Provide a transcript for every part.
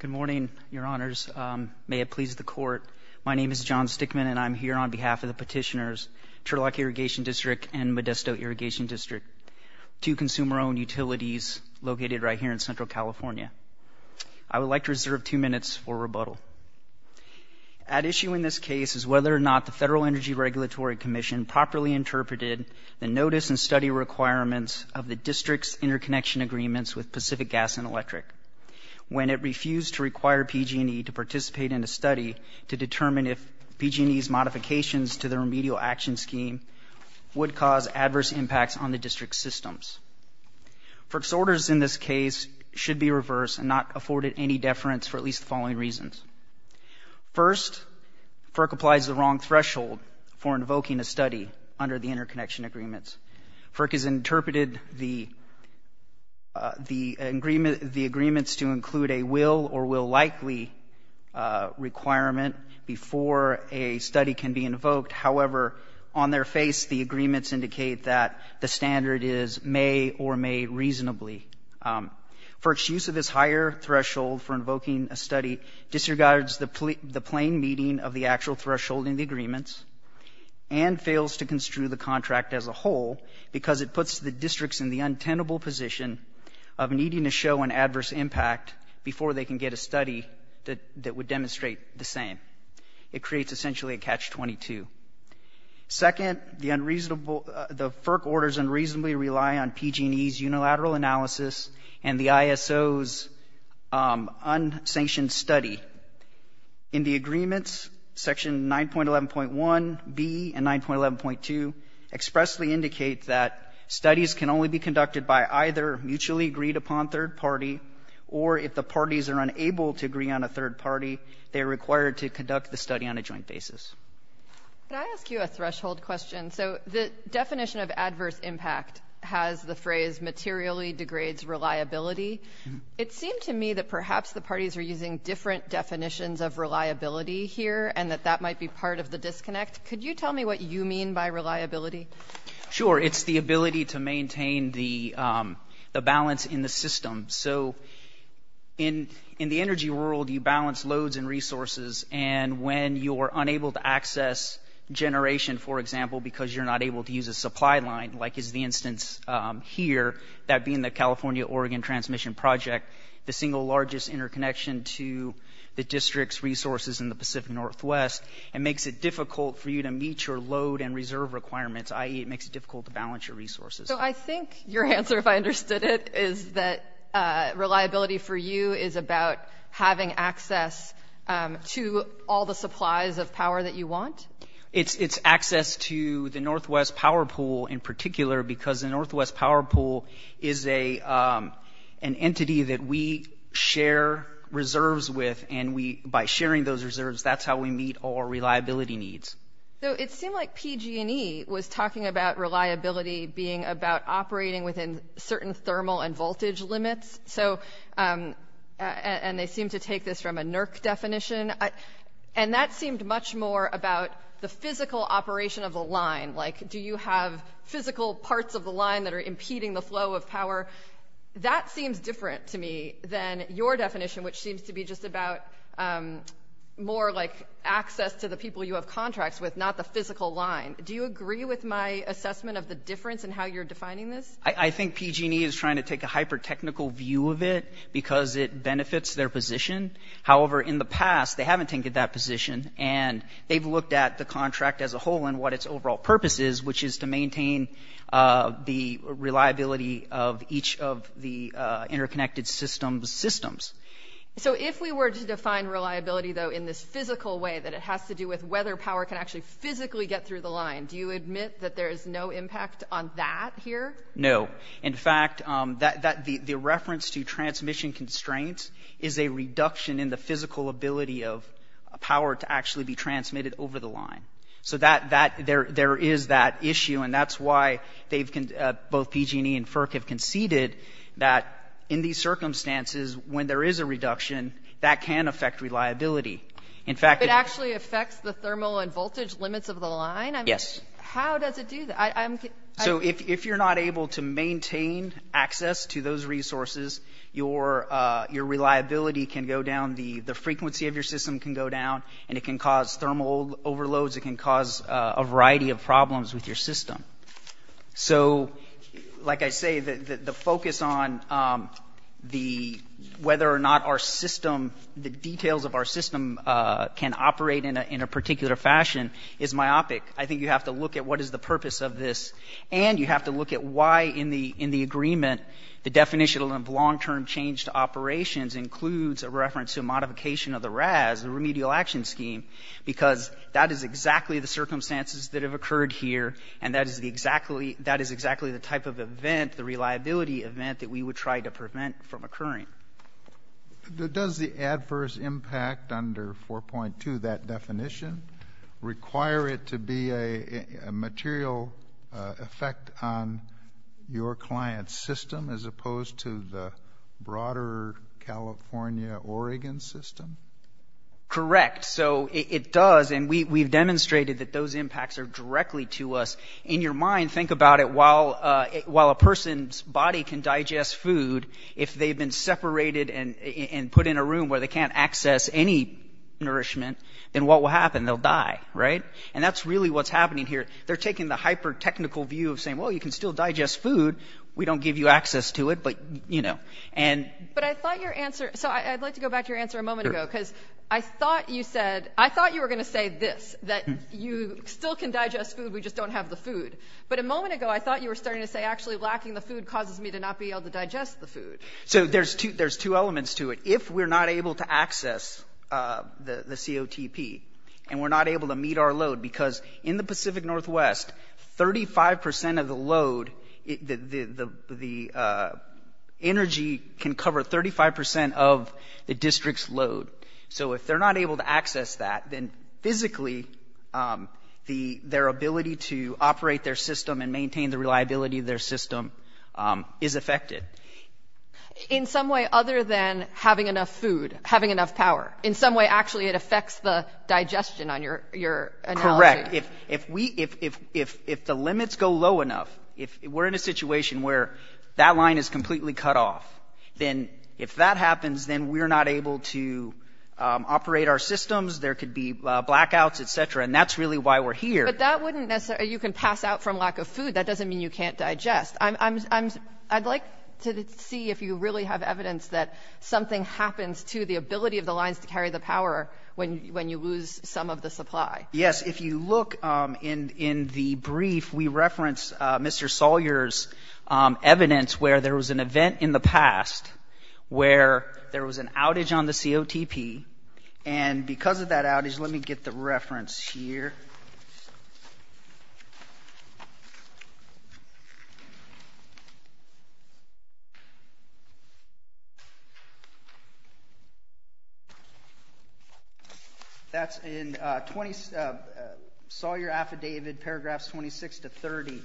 Good morning, Your Honors. May it please the Court, my name is John Stickman and I'm here on behalf of the petitioners, Turlock Irrigation District and Modesto Irrigation District, two consumer-owned utilities located right here in Central California. I would like to reserve two minutes for rebuttal. At issue in this case is whether or not the Federal Energy Regulatory Commission properly interpreted the notice and study requirements of the district's interconnection agreements with Pacific Gas and Electric when it refused to require PG&E to participate in a study to determine if PG&E's modifications to the remedial action scheme would cause adverse impacts on the district's systems. FERC's orders in this case should be reversed and not afforded any deference for at least the following reasons. First, FERC applies the wrong threshold for invoking a study under the interconnection agreements. FERC has the agreements to include a will or will likely requirement before a study can be invoked. However, on their face, the agreements indicate that the standard is may or may reasonably. FERC's use of this higher threshold for invoking a study disregards the plain meaning of the actual threshold in the agreements and fails to construe the contract as a whole because it puts the districts in the untenable position of needing to show an adverse impact before they can get a study that would demonstrate the same. It creates essentially a catch-22. Second, the unreasonable, the FERC orders unreasonably rely on PG&E's unilateral analysis and the ISO's unsanctioned study. In the agreements, section 9.11.1b and 9.11.2 expressly indicate that studies can only be conducted by either mutually agreed upon third party or if the parties are unable to agree on a third party, they're required to conduct the study on a joint basis. Can I ask you a threshold question? So the definition of adverse impact has the phrase materially degrades reliability. It seemed to me that perhaps the parties are using different definitions of reliability here and that that might be part of the disconnect. Could you tell me what you mean by reliability? Sure. It's the ability to maintain the balance in the system. So in the energy world, you balance loads and resources and when you're unable to access generation, for example, because you're not able to use a supply line like is the instance here, that being the California-Oregon transmission project, the single largest interconnection to the district's resources in the Pacific Northwest, it makes it difficult for you to meet your load and reserve requirements, i.e. it makes it difficult to balance your resources. So I think your answer, if I understood it, is that reliability for you is about having access to all the supplies of power that you want? It's access to the Northwest Power Pool in particular because the Northwest Power Pool is an entity that we share reserves with and by sharing those reserves, that's how we meet our reliability needs. So it seemed like PG&E was talking about reliability being about operating within certain thermal and voltage limits, and they seem to take this from a NERC definition, and that seemed much more about the physical operation of the line, like do you have physical parts of the line that are impeding the flow of power? That seems different to me than your definition, which seems to be just about more like access to the people you have contracts with, not the physical line. Do you agree with my assessment of the difference in how you're defining this? I think PG&E is trying to take a hyper-technical view of it because it benefits their position. However, in the past, they haven't taken that position and they've looked at the contract as a whole and what its overall purpose is, which is to maintain the reliability of each of the interconnected systems. So if we were to define reliability, though, in this physical way that it has to do with whether power can actually physically get through the line, do you admit that there is no impact on that here? No. In fact, the reference to transmission constraints is a reduction in the physical ability of power to actually be transmitted over the line. So there is that issue, and that's why both PG&E and FERC have conceded that in these circumstances, when there is a reduction, that can affect reliability. In fact... It actually affects the thermal and voltage limits of the line? Yes. How does it do that? So if you're not able to maintain access to those resources, your reliability can go down, the frequency of your system can go down, and it can cause thermal overloads, it can cause a variety of problems with your system. So, like I say, the focus on whether or not the details of our system can operate in a particular fashion is myopic. I think you have to look at what is the purpose of this, and you have to look at why, in the agreement, the definition of long-term change to operations includes a reference to a modification of the RAS, the Remedial Action Scheme, because that is exactly the circumstances that have occurred here, and that is exactly the type of event, the reliability event, that we would try to prevent from occurring. Does the adverse impact under 4.2, that definition, require it to be a material effect on your client's system, as opposed to the broader California-Oregon system? Correct. So it does, and we've demonstrated that those impacts are directly to us. In your mind, think about it, while a person's body can digest food, if they've been separated and put in a room where they can't access any nourishment, then what will happen? They'll die, right? And that's really what's happening here. They're taking the hyper-technical view of saying, well, you can still digest food, we don't give you access to it, but, you know, and... But I thought your answer, so I'd like to go back to your answer a moment ago, because I thought you said, I thought you were going to say this, that you still can digest food, we just don't have the food. But a moment ago, I thought you were starting to say, actually, lacking the food causes me to not be able to digest the food. So there's two elements to it. If we're not able to access the COTP, and we're not able to meet our load, because in the Pacific Northwest, 35% of the load, the 35% of the district's load. So if they're not able to access that, then physically, their ability to operate their system and maintain the reliability of their system is affected. In some way other than having enough food, having enough power. In some way, actually, it affects the digestion, on your analogy. Correct. If we, if the limits go low enough, if we're in a situation where that line is completely cut off, then if that happens, then we're not able to operate our systems, there could be blackouts, etc. And that's really why we're here. But that wouldn't necessarily, you can pass out from lack of food, that doesn't mean you can't digest. I'd like to see if you really have evidence that something happens to the ability of the lines to carry the power when you lose some of the supply. Yes, if you look in the brief, we reference Mr. Sawyer's evidence where there was an event in the past where there was an outage on the COTP, and because of that Sawyer affidavit, paragraphs 26 to 30,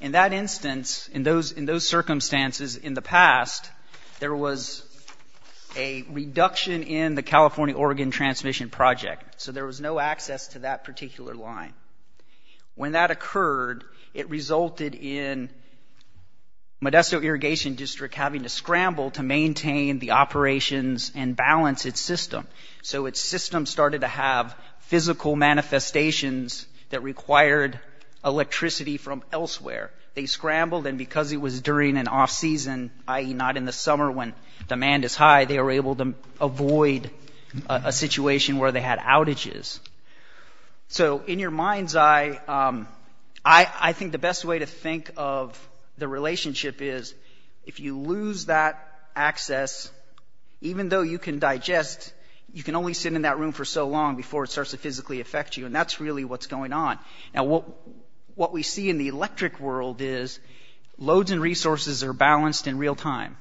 in that instance, in those circumstances in the past, there was a reduction in the California-Oregon transmission project, so there was no access to that particular line. When that occurred, it resulted in Modesto Irrigation District having to scramble to maintain the operations and manifestations that required electricity from elsewhere. They scrambled, and because it was during an off-season, i.e. not in the summer when demand is high, they were able to avoid a situation where they had outages. So in your mind's eye, I think the best way to think of the relationship is, if you lose that access, even though you can digest, you can only sit in that room for so long before it affects you, and that's really what's going on. Now what we see in the electric world is loads and resources are balanced in real time.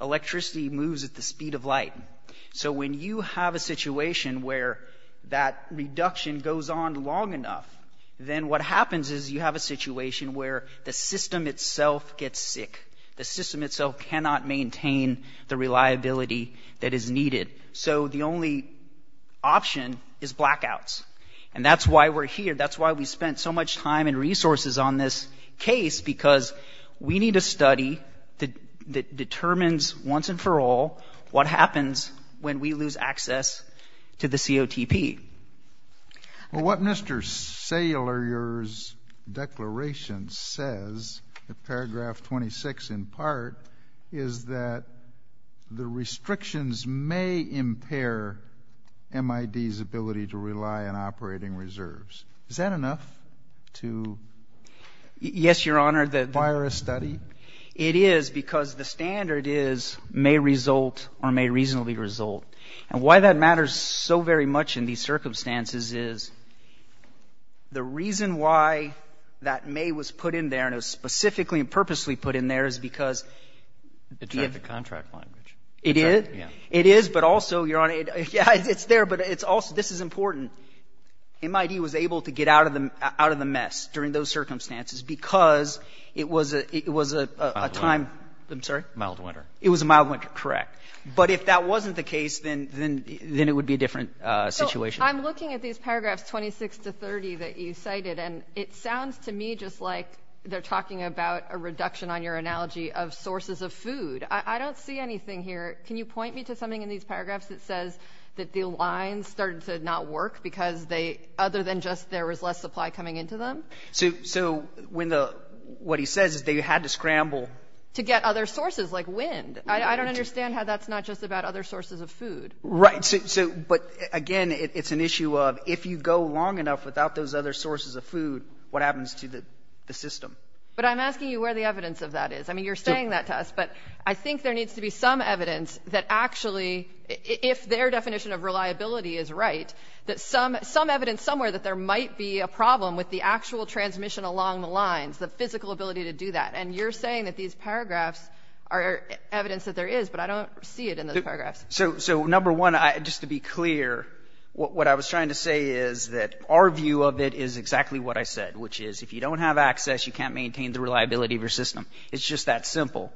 Electricity moves at the speed of light. So when you have a situation where that reduction goes on long enough, then what happens is you have a situation where the system itself gets sick. The system itself cannot maintain the reliability that is needed. So the only option is blackouts. And that's why we're here. That's why we spent so much time and resources on this case, because we need a study that determines once and for all what happens when we lose access to the COTP. Well, what Mr. Saylor, your declaration says, paragraph 26 in part, is that the restrictions may impair MID's ability to rely on operating reserves. Is that enough to fire a study? Yes, Your Honor. It is because the standard is may result or may reasonably result. And why that matters so very much in these circumstances is the reason why that may was put in there, and it was specifically and purposely put in there, is because... It's not the contract language. It is? Yeah. It is, but also, Your Honor, yeah, it's there, but it's also, this is important. MID was able to get out of the mess during those circumstances because it was a time... Mild winter. I'm sorry? Mild winter. It was a mild winter, correct. But if that wasn't the case, then it would be a different situation. I'm looking at these paragraphs 26 to 30 that you cited, and it sounds to me just like they're talking about a reduction on your analogy of sources of food. I don't see anything here. Can you point me to something in these paragraphs that says that the lines started to not work because they, other than just there was less supply coming into them? So when the, what he says is they had to scramble... To get other sources, like wind. I don't understand how that's not just about other sources of food. Right, so, but again, it's an issue of if you go long enough without those other sources of food, what happens to the system? But I'm asking you where the evidence of that is. I mean, you're saying that to us, but I think there needs to be some evidence that actually, if their definition of reliability is right, that some, some evidence somewhere that there might be a problem with the actual transmission along the lines, the physical ability to do that, and you're saying that these paragraphs are evidence that there is, but I don't see it in those paragraphs. So, so number one, I, just to be clear, what I was trying to say is that our view of it is exactly what I said, which is if you don't have access, you can't maintain the reliability of your system. It's just that simple.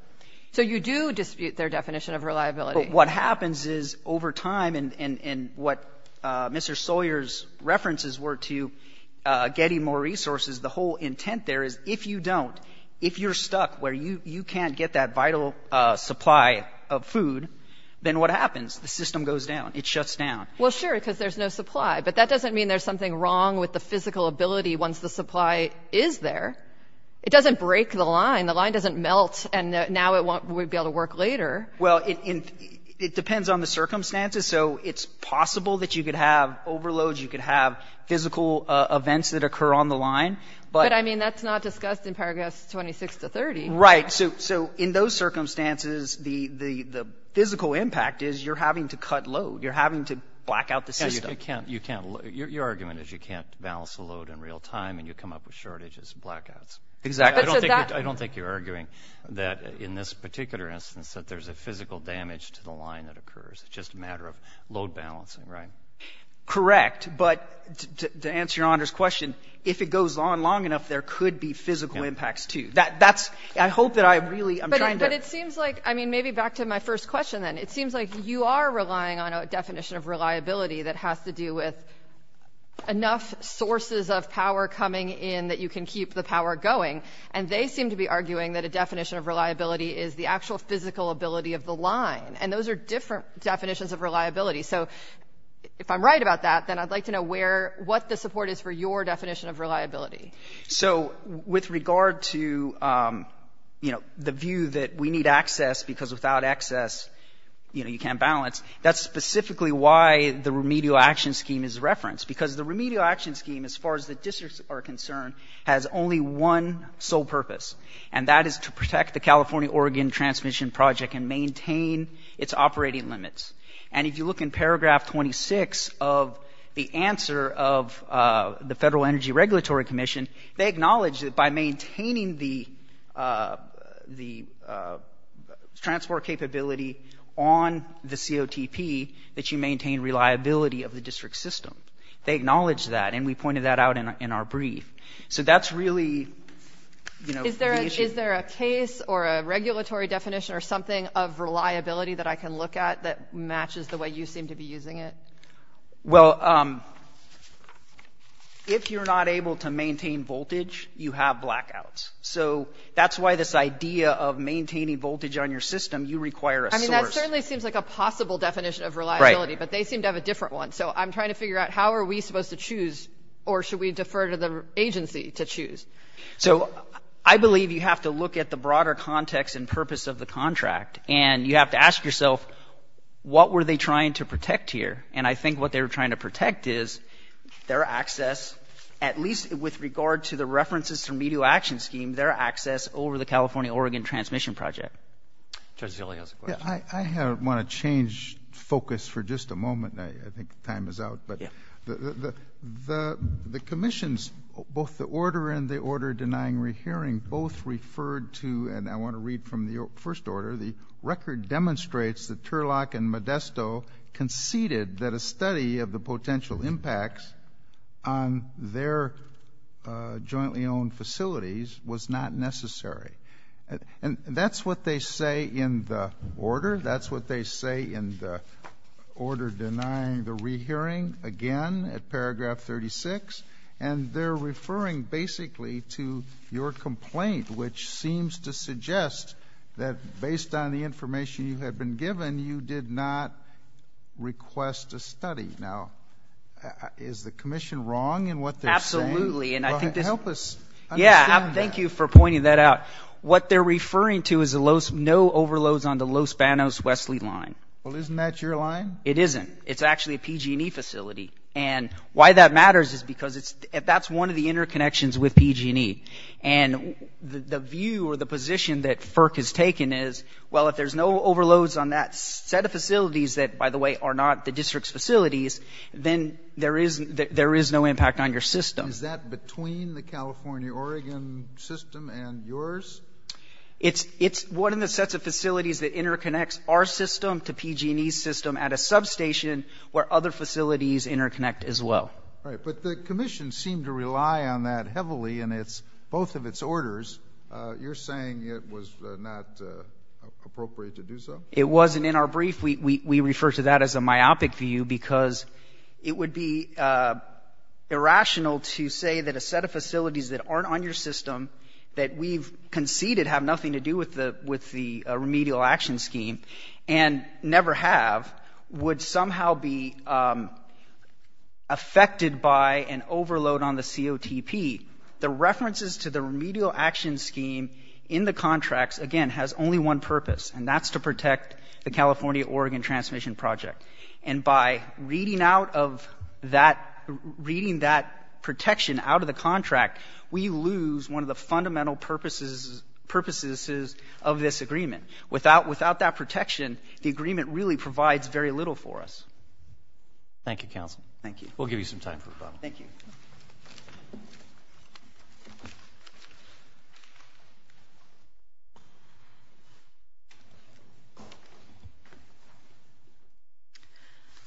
So you do dispute their definition of reliability. But what happens is over time, and, and, and what Mr. Sawyer's references were to getting more resources, the whole intent there is if you don't, if you're stuck where you, you can't get that vital supply of food, then what happens? The system goes down. It shuts down. Well, sure, because there's no supply, but that doesn't mean there's something wrong with the physical ability once the supply is there. It doesn't break the line. The line doesn't melt, and now it won't, we'd be able to work later. Well, it, it depends on the circumstances. So it's possible that you could have overloads, you could have physical events that occur on the line. But I mean, that's not discussed in paragraphs 26 to 30. Right. So, so in those circumstances, the, the, the physical impact is you're having to cut load. You're having to black out the system. Yeah, you can't, you can't, your, your argument is you can't balance the load in real time, and you come up with shortages and blackouts. Exactly. I don't think, I don't think you're arguing that in this particular instance that there's a physical damage to the line that occurs. It's just a matter of load balancing, right? Correct. But to, to answer your Honor's question, if it goes on long enough, there could be physical impacts too. That, that's, I hope that I really, I'm trying to... But, but it seems like, I mean, maybe back to my first question, then. It seems like you are relying on a definition of reliability that has to do with enough sources of power coming in that you can keep the power going. And they seem to be arguing that a definition of reliability is the actual physical ability of the line. And those are different definitions of reliability. So if I'm right about that, then I'd like to know where, what the support is for your definition of reliability. So with regard to, you know, the view that we need access because without access, you know, you can't balance, that's specifically why the remedial action scheme is referenced. Because the remedial action scheme, as far as the districts are concerned, has only one sole purpose. And that is to protect the California-Oregon Transmission Project and maintain its operating limits. And if you look in paragraph 26 of the answer of the Federal Energy Regulatory Commission, they acknowledge that by maintaining the, the transport capability on the COTP, that you maintain reliability of the district system. They acknowledge that and we pointed that out in our brief. So that's really, you know, Is there a, is there a case or a regulatory definition or something of reliability that I can look at that matches the way you seem to be using it? Well, if you're not able to maintain voltage, you have blackouts. So that's why this idea of maintaining voltage on your system, you require a source. I mean, that certainly seems like a possible definition of reliability, but they seem to have a different one. So I'm trying to figure out how are we supposed to choose, or should we defer to the agency to choose? So I believe you have to look at the broader context and purpose of the contract. And you have to ask yourself, what were they trying to protect here? And I think what they were trying to protect is their access, at least with regard to the references to the Medio Action Scheme, their access over the California-Oregon Transmission Project. Judge Zillio has a question. I want to change focus for just a moment. I think time is out. But the, the, the, the commissions, both the order and the order denying rehearing, both referred to, and I want to read from the first order, the record demonstrates that a study of the potential impacts on their jointly owned facilities was not necessary. And, and that's what they say in the order. That's what they say in the order denying the rehearing, again, at paragraph 36. And they're referring basically to your complaint, which seems to suggest that based on the information you had been given, you did not request a study. Now, is the commission wrong in what they're saying? Absolutely. And I think this. Help us understand that. Yeah, thank you for pointing that out. What they're referring to is a low, no overloads on the Los Banos-Wesley line. Well, isn't that your line? It isn't. It's actually a PG&E facility. And why that matters is because it's, that's one of the interconnections with PG&E. And the, the view or the position that FERC has taken is, well, if there's no overloads on that set of facilities that, by the way, are not the district's facilities, then there is, there is no impact on your system. Is that between the California-Oregon system and yours? It's, it's one of the sets of facilities that interconnects our system to PG&E's system at a substation where other facilities interconnect as well. Right. But the commission seemed to rely on that heavily in its, both of its orders. You're saying it was not appropriate to do so? It wasn't in our brief. We, we, we refer to that as a myopic view because it would be irrational to say that a set of facilities that aren't on your system, that we've conceded have nothing to do with the, with the remedial action scheme and never have, would somehow be affected by an overload on the COTP. The references to the remedial action scheme in the contracts, again, has only one purpose, and that's to protect the California-Oregon transmission project. And by reading out of that, reading that protection out of the contract, we lose one of the fundamental purposes, purposes of this agreement. Without, without that protection, the agreement really provides very little for us. Thank you, counsel. Thank you. We'll give you some time for a Q&A.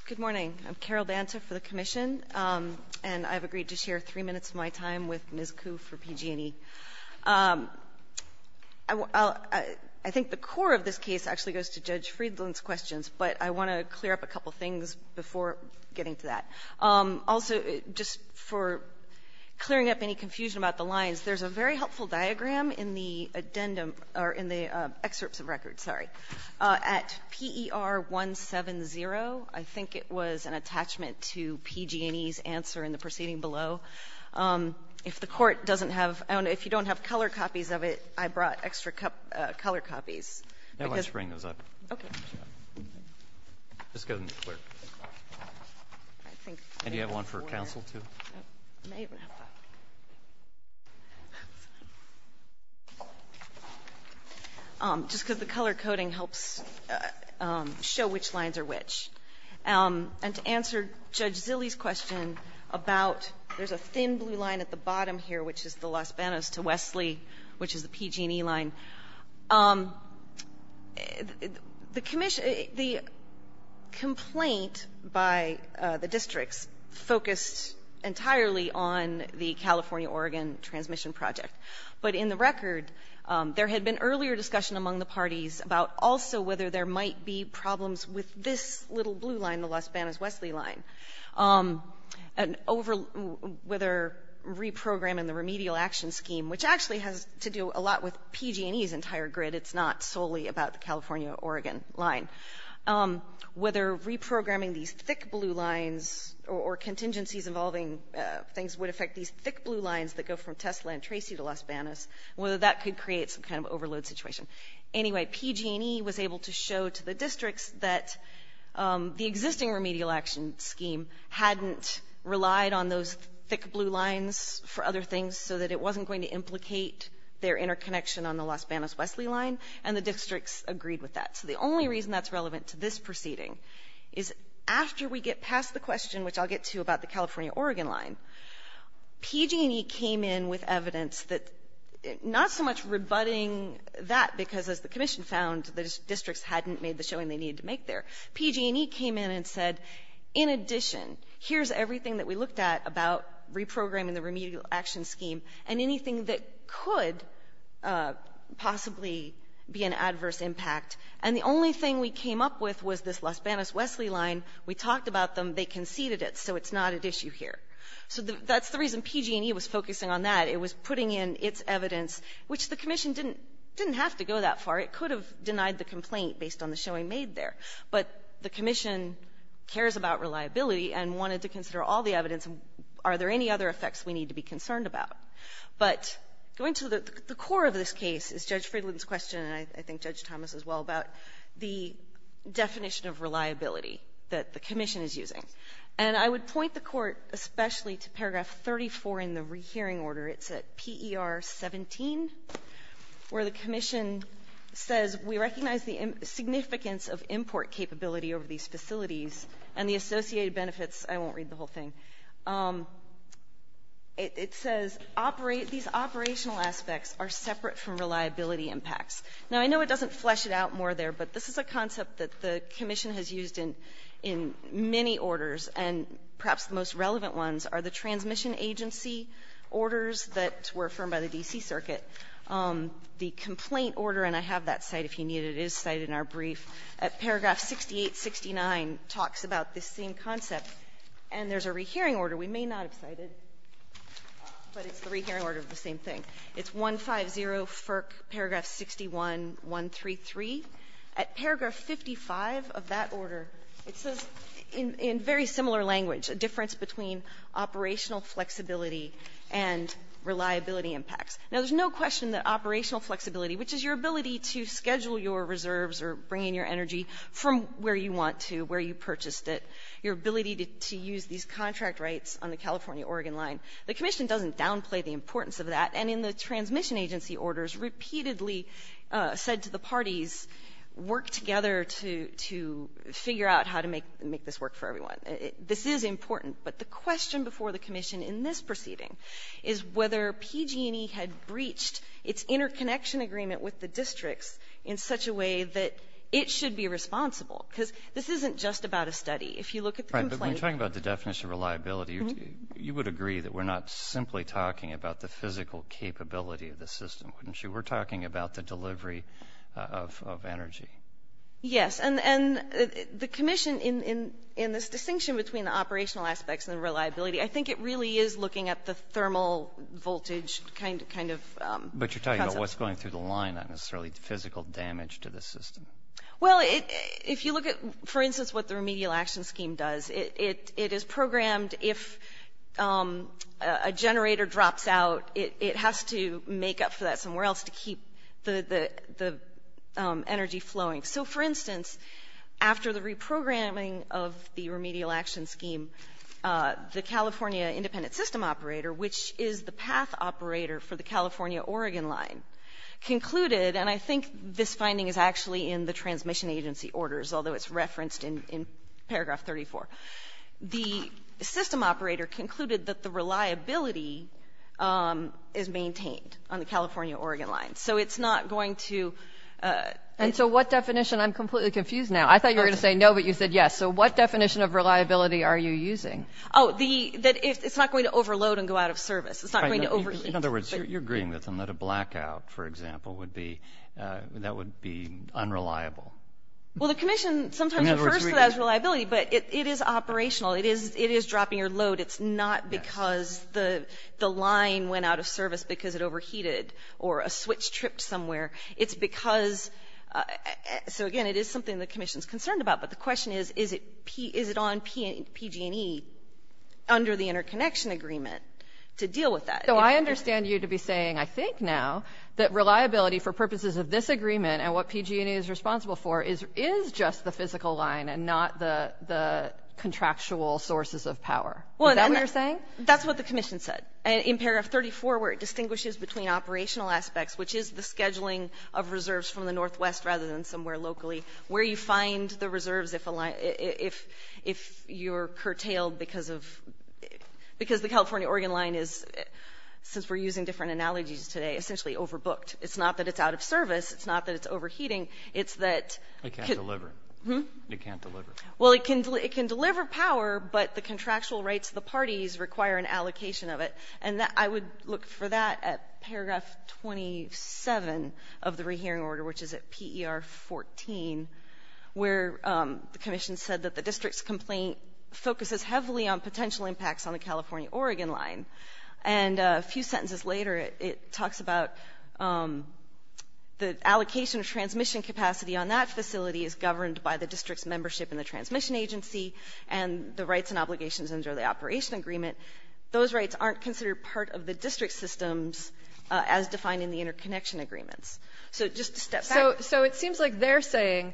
Good morning. I'm Carol Banta for the Commission, and I've agreed to share three minutes of my time with Ms. Kuh for PG&E. I, I think the core of this case actually goes to Judge Friedland's questions, but I want to clear up a couple getting to that. Also, just for clearing up any confusion about the lines, there's a very helpful diagram in the addendum, or in the excerpts of records, sorry, at PER 170. I think it was an attachment to PG&E's answer in the proceeding below. If the Court doesn't have, I don't know, if you don't have color copies of it, I brought extra color copies. No, why don't you bring those up? Okay. Just get them to clear. And do you have one for counsel, too? I may even have that. Just because the color coding helps show which lines are which. And to answer Judge Zille's question about there's a thin blue line at the bottom here, which is the Las Benas to Wesley, which is the PG&E line. The commission, the complaint by the districts focused entirely on the California-Oregon transmission project. But in the record, there had been earlier discussion among the parties about also whether there might be problems with this little blue line, the Las Benas-Wesley line. And over, whether reprogramming the remedial action scheme, which actually has to do a lot with PG&E's entire grid. It's not solely about the California-Oregon line. Whether reprogramming these thick blue lines or contingencies involving things would affect these thick blue lines that go from Tesla and Tracy to Las Benas, whether that could create some kind of overload situation. Anyway, PG&E was able to show to the districts that the existing remedial action scheme hadn't relied on those thick blue lines for other things so that it wasn't going to implicate their interconnection on the Las Benas-Wesley line. And the districts agreed with that. So the only reason that's relevant to this proceeding is after we get past the question, which I'll get to about the California-Oregon line, PG&E came in with evidence that, not so much rebutting that because as the commission found, the districts hadn't made the showing they needed to make there. PG&E came in and said, in addition, here's everything that we looked at about reprogramming the remedial action scheme and anything that could possibly be an adverse impact. And the only thing we came up with was this Las Benas-Wesley line. We talked about them. They conceded it. So it's not at issue here. So that's the reason PG&E was focusing on that. It was putting in its evidence, which the commission didn't have to go that far. It could have denied the commission cares about reliability and wanted to consider all the evidence. Are there any other effects we need to be concerned about? But going to the core of this case is Judge Friedland's question, and I think Judge Thomas as well, about the definition of reliability that the commission is using. And I would point the Court especially to paragraph 34 in the rehearing order. It's at PER 17, where the commission says, we recognize the significance of import capability over these facilities and the associated benefits. I won't read the whole thing. It says these operational aspects are separate from reliability impacts. Now, I know it doesn't flesh it out more there, but this is a concept that the commission has used in many orders, and perhaps the most relevant ones are the transmission agency orders that were affirmed by the D.C. Circuit. The complaint order, and I have that cited if you need it, it is cited in our brief, at paragraph 68, 69, talks about this same concept. And there's a rehearing order we may not have cited, but it's the rehearing order of the same thing. It's 150, FERC, paragraph 61, 133. At paragraph 55 of that order, it says in very similar language, a operational flexibility and reliability impacts. Now, there's no question that operational flexibility, which is your ability to schedule your reserves or bring in your energy from where you want to, where you purchased it, your ability to use these contract rights on the California-Oregon line, the commission doesn't downplay the importance of that. And in the transmission agency orders, repeatedly said to the parties, work together to figure out how to make this work for everyone. This is important. But the question before the commission in this proceeding is whether PG&E had breached its interconnection agreement with the districts in such a way that it should be responsible. Because this isn't just about a study. If you look at the complaint... Right, but when you're talking about the definition of reliability, you would agree that we're not simply talking about the physical capability of the system, wouldn't you? We're talking about the delivery of energy. Yes. And the commission, in this distinction between the operational aspects and the reliability, I think it really is looking at the thermal voltage kind of concept. But you're talking about what's going through the line, not necessarily the physical damage to the system. Well, if you look at, for instance, what the remedial action scheme does, it is programmed if a generator drops out, it has to make up for that somewhere else to get the energy flowing. So for instance, after the reprogramming of the remedial action scheme, the California Independent System Operator, which is the path operator for the California-Oregon line, concluded, and I think this finding is actually in the transmission agency orders, although it's referenced in paragraph 34. The system operator concluded that the reliability is maintained on the California-Oregon line. So it's not going to – And so what definition – I'm completely confused now. I thought you were going to say no, but you said yes. So what definition of reliability are you using? Oh, that it's not going to overload and go out of service. It's not going to overheat. In other words, you're agreeing with them that a blackout, for example, would be – that would be unreliable. Well, the commission sometimes refers to that as reliability, but it is operational. It is dropping your load. It's not because the line went out of service or overheated or a switch tripped somewhere. It's because – so again, it is something the commission is concerned about, but the question is, is it on PG&E under the interconnection agreement to deal with that? So I understand you to be saying, I think now, that reliability for purposes of this agreement and what PG&E is responsible for is just the physical line and not the contractual sources of power. Is that what you're saying? That's what the commission said. In paragraph 34, where it distinguishes between operational aspects, which is the scheduling of reserves from the Northwest rather than somewhere locally, where you find the reserves if you're curtailed because of – because the California-Oregon line is, since we're using different analogies today, essentially overbooked. It's not that it's out of service. It's not that it's overheating. It's that – It can't deliver. Hmm? It can't deliver. Well, it can deliver power, but the contractual rights of the parties require an allocation of it, and I would look for that at paragraph 27 of the rehearing order, which is at PER 14, where the commission said that the district's complaint focuses heavily on potential impacts on the California-Oregon line. And a few sentences later, it talks about the allocation of transmission capacity on that facility is governed by the district's membership in the transmission agency and the rights and obligations under the operation agreement. Those rights aren't considered part of the district systems as defined in the interconnection agreements. So just to step back – So it seems like they're saying,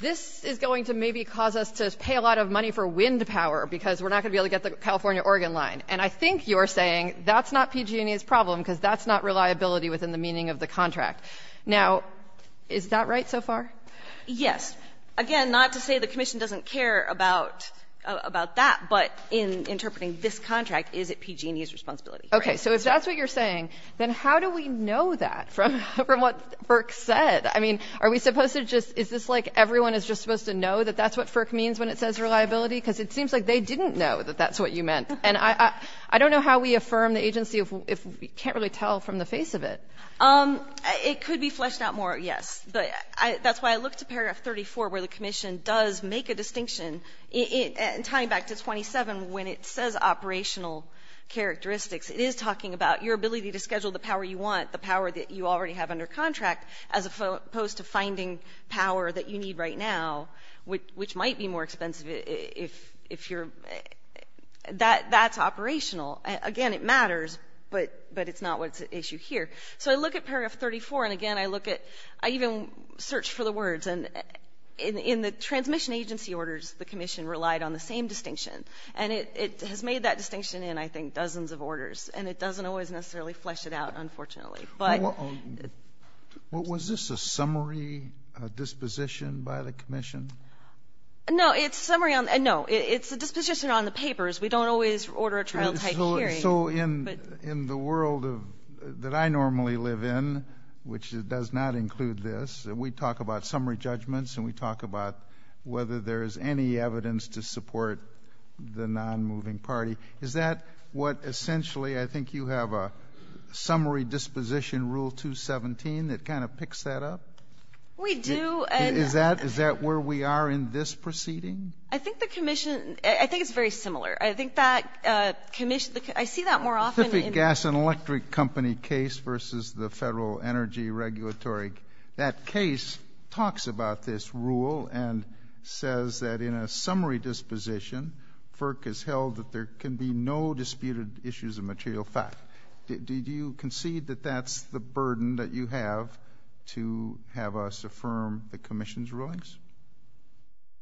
this is going to maybe cause us to pay a lot of money for wind power because we're not going to be able to get the California-Oregon line. And I think you're saying that's not PG&E's problem because that's not reliability within the meaning of the contract. Now, is that right so far? Yes. Again, not to say the commission doesn't care about that, but in interpreting this contract, is it PG&E's responsibility? Okay. So if that's what you're saying, then how do we know that from what FERC said? I mean, are we supposed to just – is this like everyone is just supposed to know that that's what FERC means when it says reliability? Because it seems like they didn't know that that's what you meant. And I don't know how we affirm the agency if we can't really tell from the face of it. It could be fleshed out more, yes. That's why I look to paragraph 34 where the commission does make a distinction, tying back to 27, when it says operational characteristics. It is talking about your ability to schedule the power you want, the power that you already have under contract, as opposed to finding power that you need right now, which might be more expensive if you're – that's operational. Again, it matters, but it's not what's at issue here. So I look at paragraph 34, and again, I look at – I even search for the words. And in the transmission agency orders, the commission relied on the same distinction. And it has made that distinction in, I think, dozens of orders. And it doesn't always necessarily flesh it out, unfortunately. Was this a summary disposition by the commission? No, it's a summary on – no, it's a disposition on the papers. We don't always order a trial-type hearing. So in the world that I normally live in, which does not include this, we talk about summary judgments, and we talk about whether there is any evidence to support the non-moving party. Is that what essentially – I think you have a summary disposition rule 217 that kind of picks that up? We do. Is that where we are in this proceeding? I think the commission – I think it's very similar. I think that commission – I see that more often in – Pacific Gas and Electric Company case versus the federal energy regulatory – that case talks about this rule and says that in a summary disposition, FERC has held that there can be no disputed issues of material fact. Do you concede that that's the burden that you have to have us affirm the commission's rulings?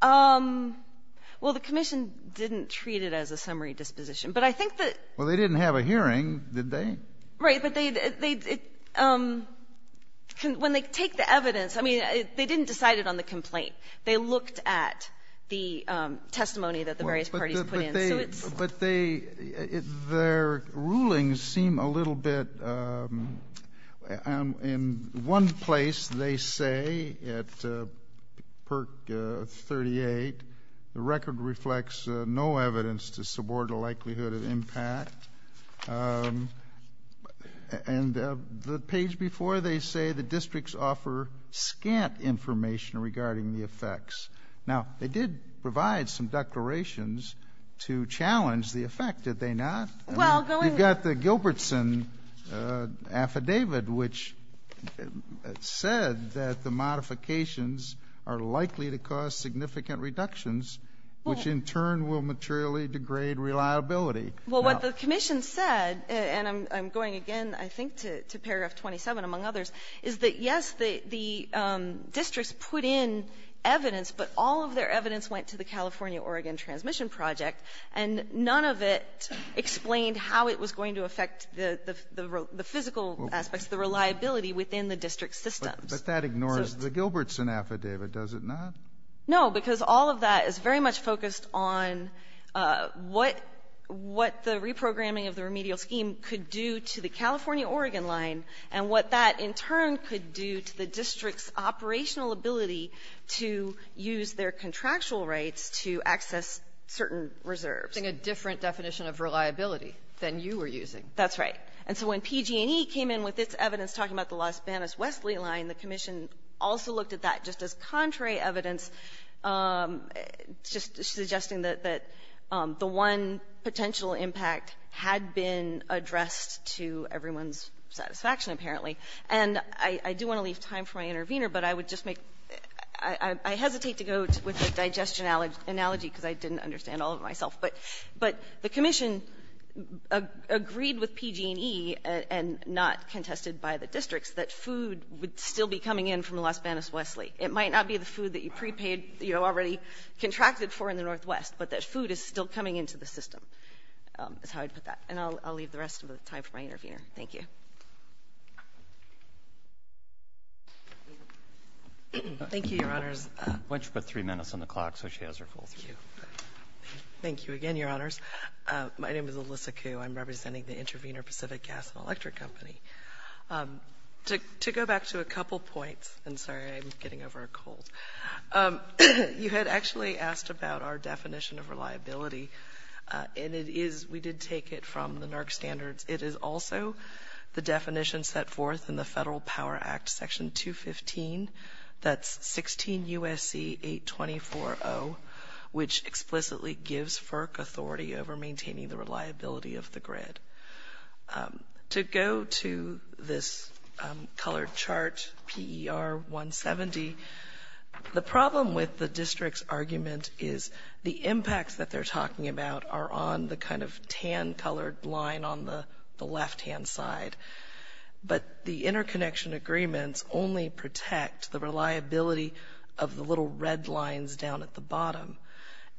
Well, the commission didn't treat it as a summary disposition. But I think that – Well, they didn't have a hearing, did they? Right. But they – when they take the evidence – I mean, they didn't decide it on the complaint. They looked at the testimony that the various parties put in. But they – their rulings seem a little bit – in one place, they say at PERC 38, the record reflects no evidence to support a likelihood of impact. And the page before they say the districts offer scant information regarding the effects. Now, they did provide some declarations to challenge the effect, did they not? Well, going – We got the Gilbertson affidavit, which said that the modifications are likely to cause significant reductions, which in turn will materially degrade reliability. Well, what the commission said – and I'm going again, I think, to paragraph 27, among others – is that, yes, the districts put in evidence, but all of their evidence went to the California-Oregon Transmission Project. And none of it explained how it was going to affect the physical aspects, the reliability within the district systems. But that ignores the Gilbertson affidavit, does it not? No, because all of that is very much focused on what the reprogramming of the remedial scheme could do to the California-Oregon line, and what that in turn could do to the district's operational ability to use their contractual rights to access certain reserves. I think a different definition of reliability than you were using. That's right. And so when PG&E came in with its evidence talking about the Las Banas-Wesley line, the commission also looked at that just as contrary evidence, just suggesting that the one potential impact had been addressed to everyone's satisfaction, apparently. And I do want to leave time for my intervener, but I hesitate to go with the digestion analogy because I didn't understand all of it myself. But the commission agreed with PG&E and not contested by the districts that food would still be coming in from the Las Banas-Wesley. It might not be the food that you already contracted for in the Northwest, but that food is still coming into the system, is how I'd put that. And I'll leave the rest of the time for my intervener. Thank you. Thank you, Your Honors. Why don't you put three minutes on the clock so she has her full three minutes. Thank you. Again, Your Honors, my name is Alyssa Kuh. I'm representing the Intervener Pacific Gas and Electric Company. To go back to a couple points, and sorry, I'm getting over a cold. You had actually asked about our definition of reliability, and we did take it from the NARC standards. It is also the definition set forth in the Federal Power Act Section 215, that's 16 U.S.C. 824.0, which explicitly gives FERC authority over maintaining the reliability of the grid. To go to this colored chart, PER 170, the problem with the district's argument is the impacts that they're talking about are on the kind of tan-colored line on the left-hand side. But the interconnection agreements only protect the reliability of the little red lines down at the bottom.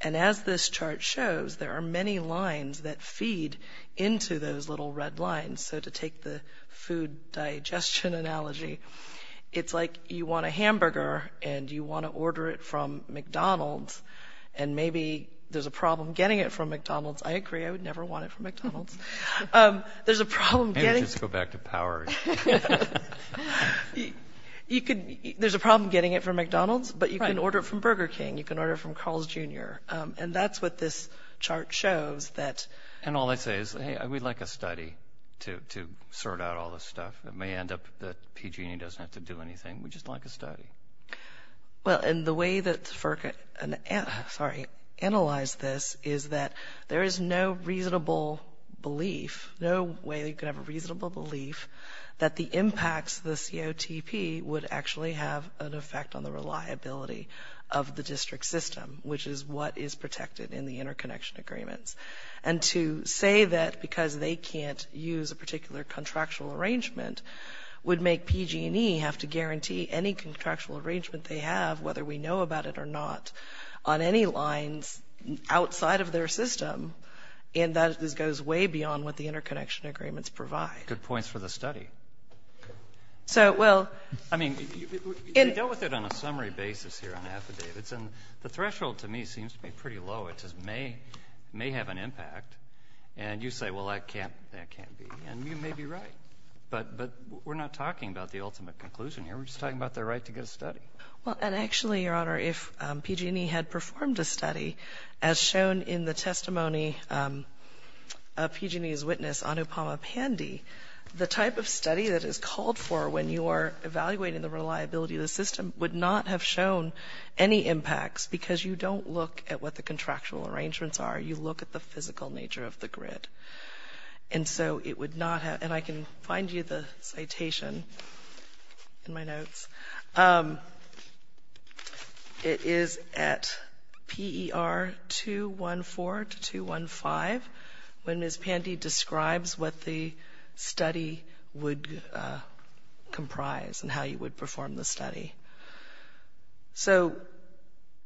And as this chart shows, there are many lines that feed into those little red lines. So to take the food digestion analogy, it's like you want a hamburger and you want to order it from McDonald's, and maybe there's a problem getting it from McDonald's. I agree, I would never want it from McDonald's. There's a problem getting... And just go back to power. There's a problem getting it from McDonald's, but you can order it from Burger King, you can order it from Carl's Jr., and that's what this chart shows. And all I say is, hey, we'd like a study to sort out all this stuff. It may end up that PG&E doesn't have to do anything. We'd just like a study. Well, and the way that FERC analyzed this is that there is no reasonable belief, no way you could have a reasonable belief that the impacts of the COTP would actually have an effect on the reliability of the district system, which is what is protected in the interconnection agreements. And to say that because they can't use a particular contractual arrangement would make PG&E have to guarantee any contractual arrangement they have, whether we know about it or not, on any lines outside of their system, and that goes way beyond what the interconnection agreements provide. Good points for the study. So, well... I mean, we dealt with it on a summary basis here on affidavits, and the threshold to me seems to be pretty low. It just may have an impact. And you say, well, that can't be. And you may be right. But we're not talking about the ultimate conclusion here. We're just talking about their right to get a study. Well, and actually, Your Honour, if PG&E had performed a study, as shown in the testimony of PG&E's witness, Anupama Pandey, the type of study that is called for when you are evaluating the reliability of the system would not have shown any impacts, because you don't look at what the contractual arrangements are. You look at the physical nature of the grid. And so it would not have... And I can find you the citation in my notes. Um... It is at PER 214 to 215, when Ms. Pandey describes what the study would comprise and how you would perform the study. So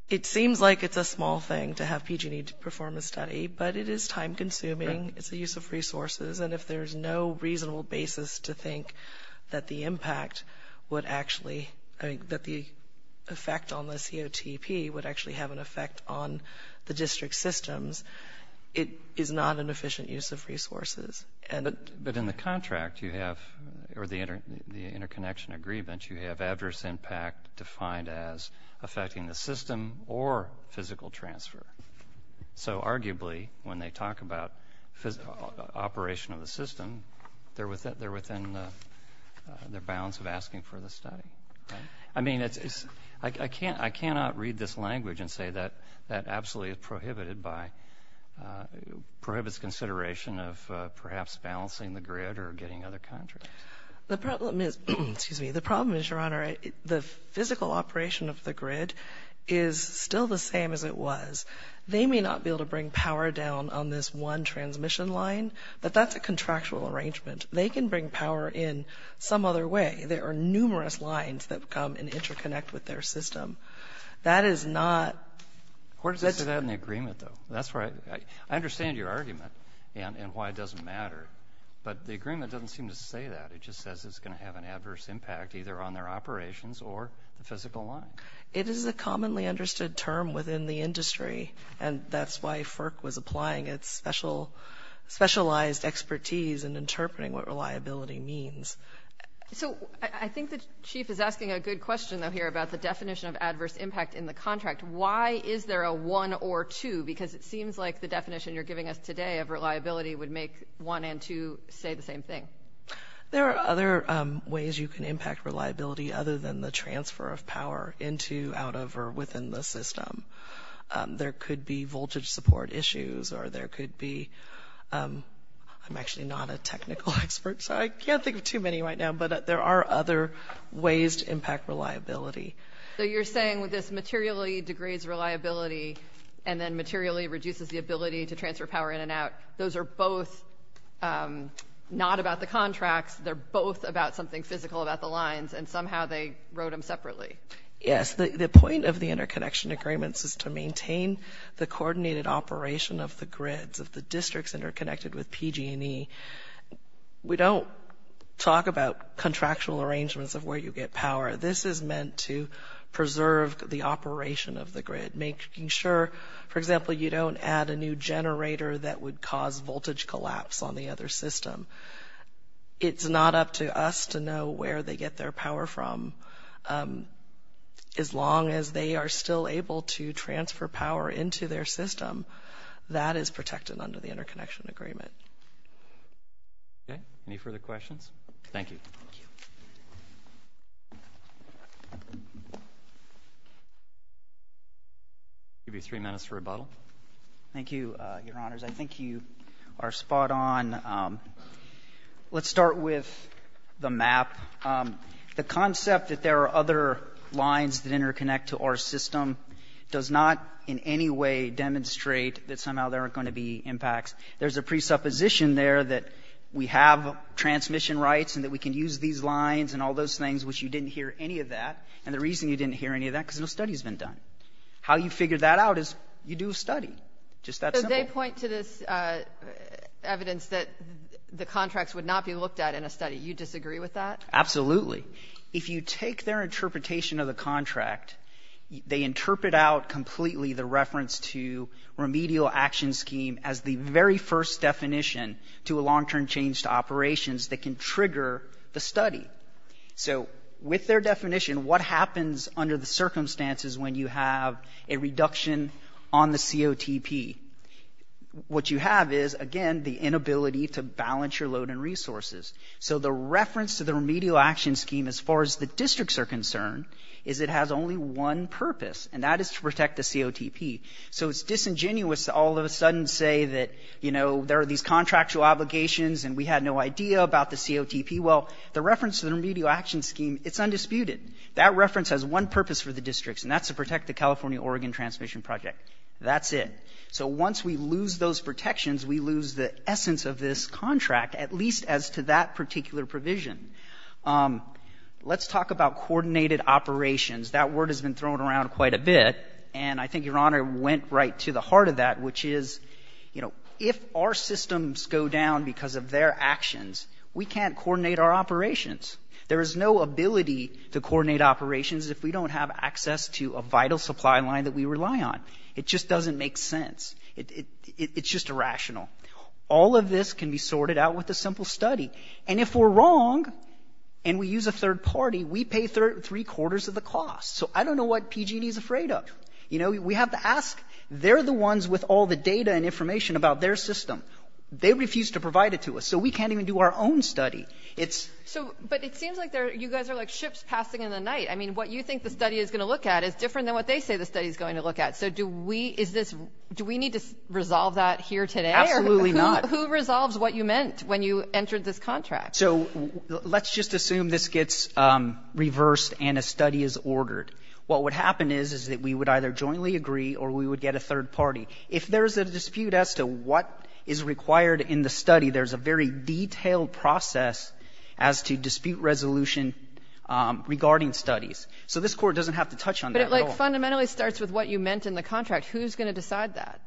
it seems like it's a small thing to have PG&E perform a study, but it is time-consuming. It's a use of resources, and if there's no reasonable basis to think that the impact would actually... I mean, that the effect on the COTP would actually have an effect on the district systems, it is not an efficient use of resources. But in the contract, you have... or the interconnection agreement, you have adverse impact defined as affecting the system or physical transfer. So arguably, when they talk about physical operation of the system, they're within the bounds of asking for the study. I mean, it's... I cannot read this language and say that that absolutely is prohibited by... prohibits consideration of perhaps balancing the grid or getting other contracts. The problem is... excuse me. The problem is, Your Honor, the physical operation of the grid is still the same as it was. They may not be able to bring power down on this one transmission line, but that's a contractual arrangement. They can bring power in some other way. There are numerous lines that come and interconnect with their system. That is not... Where does it say that in the agreement, though? That's where I... I understand your argument and why it doesn't matter, but the agreement doesn't seem to say that. It just says it's gonna have an adverse impact either on their operations or the physical line. It is a commonly understood term within the industry, and that's why FERC was applying its special... specialized expertise in interpreting what reliability means. So I think the chief is asking a good question, though, here about the definition of adverse impact in the contract. Why is there a one or two? Because it seems like the definition you're giving us today of reliability would make one and two say the same thing. There are other ways you can impact reliability other than the transfer of power into, out of, or within the system. There could be voltage support issues or there could be... I'm actually not a technical expert, so I can't think of too many right now, but there are other ways to impact reliability. So you're saying with this materially degrades reliability and then materially reduces the ability to transfer power in and out, those are both not about the contracts. They're both about something physical about the lines, and somehow they wrote them separately. Yes, the point of the interconnection agreements is to maintain the coordinated operation of the grids, of the districts interconnected with PG&E. We don't talk about contractual arrangements of where you get power. This is meant to preserve the operation of the grid, making sure, for example, you don't add a new generator that would cause voltage collapse on the other system. It's not up to us to know where they get their power from so as long as they are still able to transfer power into their system, that is protected under the interconnection agreement. Any further questions? Thank you. I'll give you three minutes to rebuttal. Thank you, Your Honors. I think you are spot on. Let's start with the map. The concept that there are other lines that interconnect to our system does not in any way demonstrate that somehow there are going to be impacts. There's a presupposition there that we have transmission rights and that we can use these lines and all those things which you didn't hear any of that. And the reason you didn't hear any of that is because no study has been done. How you figure that out is you do a study. Just that simple. So they point to this evidence that the contracts would not be Absolutely. If you take their interpretation of the contract, they interpret out completely the reference to remedial action scheme as the very first definition to a long-term change to operations that can trigger the study. With their definition, what happens under the circumstances when you have a reduction on the COTP? What you have is, again, the inability to balance your load and resources. So the reference to the remedial action scheme, as far as the districts are concerned, is it has only one purpose, and that is to protect the COTP. So it's disingenuous to all of a sudden say that there are these contractual obligations and we had no idea about the COTP. Well, the reference to the remedial action scheme it's undisputed. That reference has one purpose for the districts, and that's to protect the That's it. So once we lose those protections, we lose the essence of this contract, at least as to that particular provision. Let's talk about coordinated operations. That word has been thrown around quite a bit, and I think Your Honor went right to the heart of that, which is, you know, if our systems go down because of their actions, we can't coordinate our operations. There is no ability to coordinate operations if we don't have access to a vital supply line that we rely on. It just doesn't make sense. It's just irrational. All of this can be sorted out with a simple study. And if we're wrong, and we use a third party, we pay three quarters of the cost. So I don't know what PG&E is afraid of. You know, we have to ask. They're the ones with all the data and information about their system. They refuse to provide it to us, so we can't even do our own study. But it seems like you guys are like ships passing in the night. I mean, what you think the study is going to look at is different than what they say the study is going to look at. So do we need to resolve that here today? Absolutely not. Who resolves what you meant when you entered this contract? So let's just assume this gets reversed and a study is ordered. What would happen is that we would either jointly agree or we would get a third party. If there's a dispute as to what is required in the study, there's a very detailed process as to dispute resolution regarding studies. So this court doesn't have to touch on that at all. But it like fundamentally starts with what you meant in the contract. Who's going to decide that?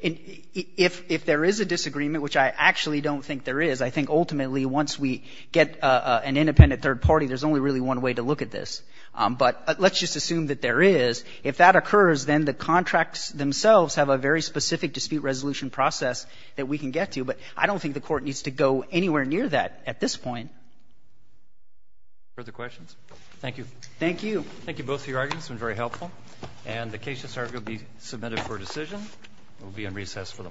If there is a disagreement, which I actually don't think there is, I think ultimately once we get an independent third party, there's only really one way to look at this. But let's just assume that there is. If that occurs, then the contracts themselves have a very specific dispute resolution process that we can get to. But I don't think the court needs to go anywhere near that at this point. Further questions? Thank you. Thank you. Thank you both for your arguments. It was very submitted for decision. We'll be in recess for the morning.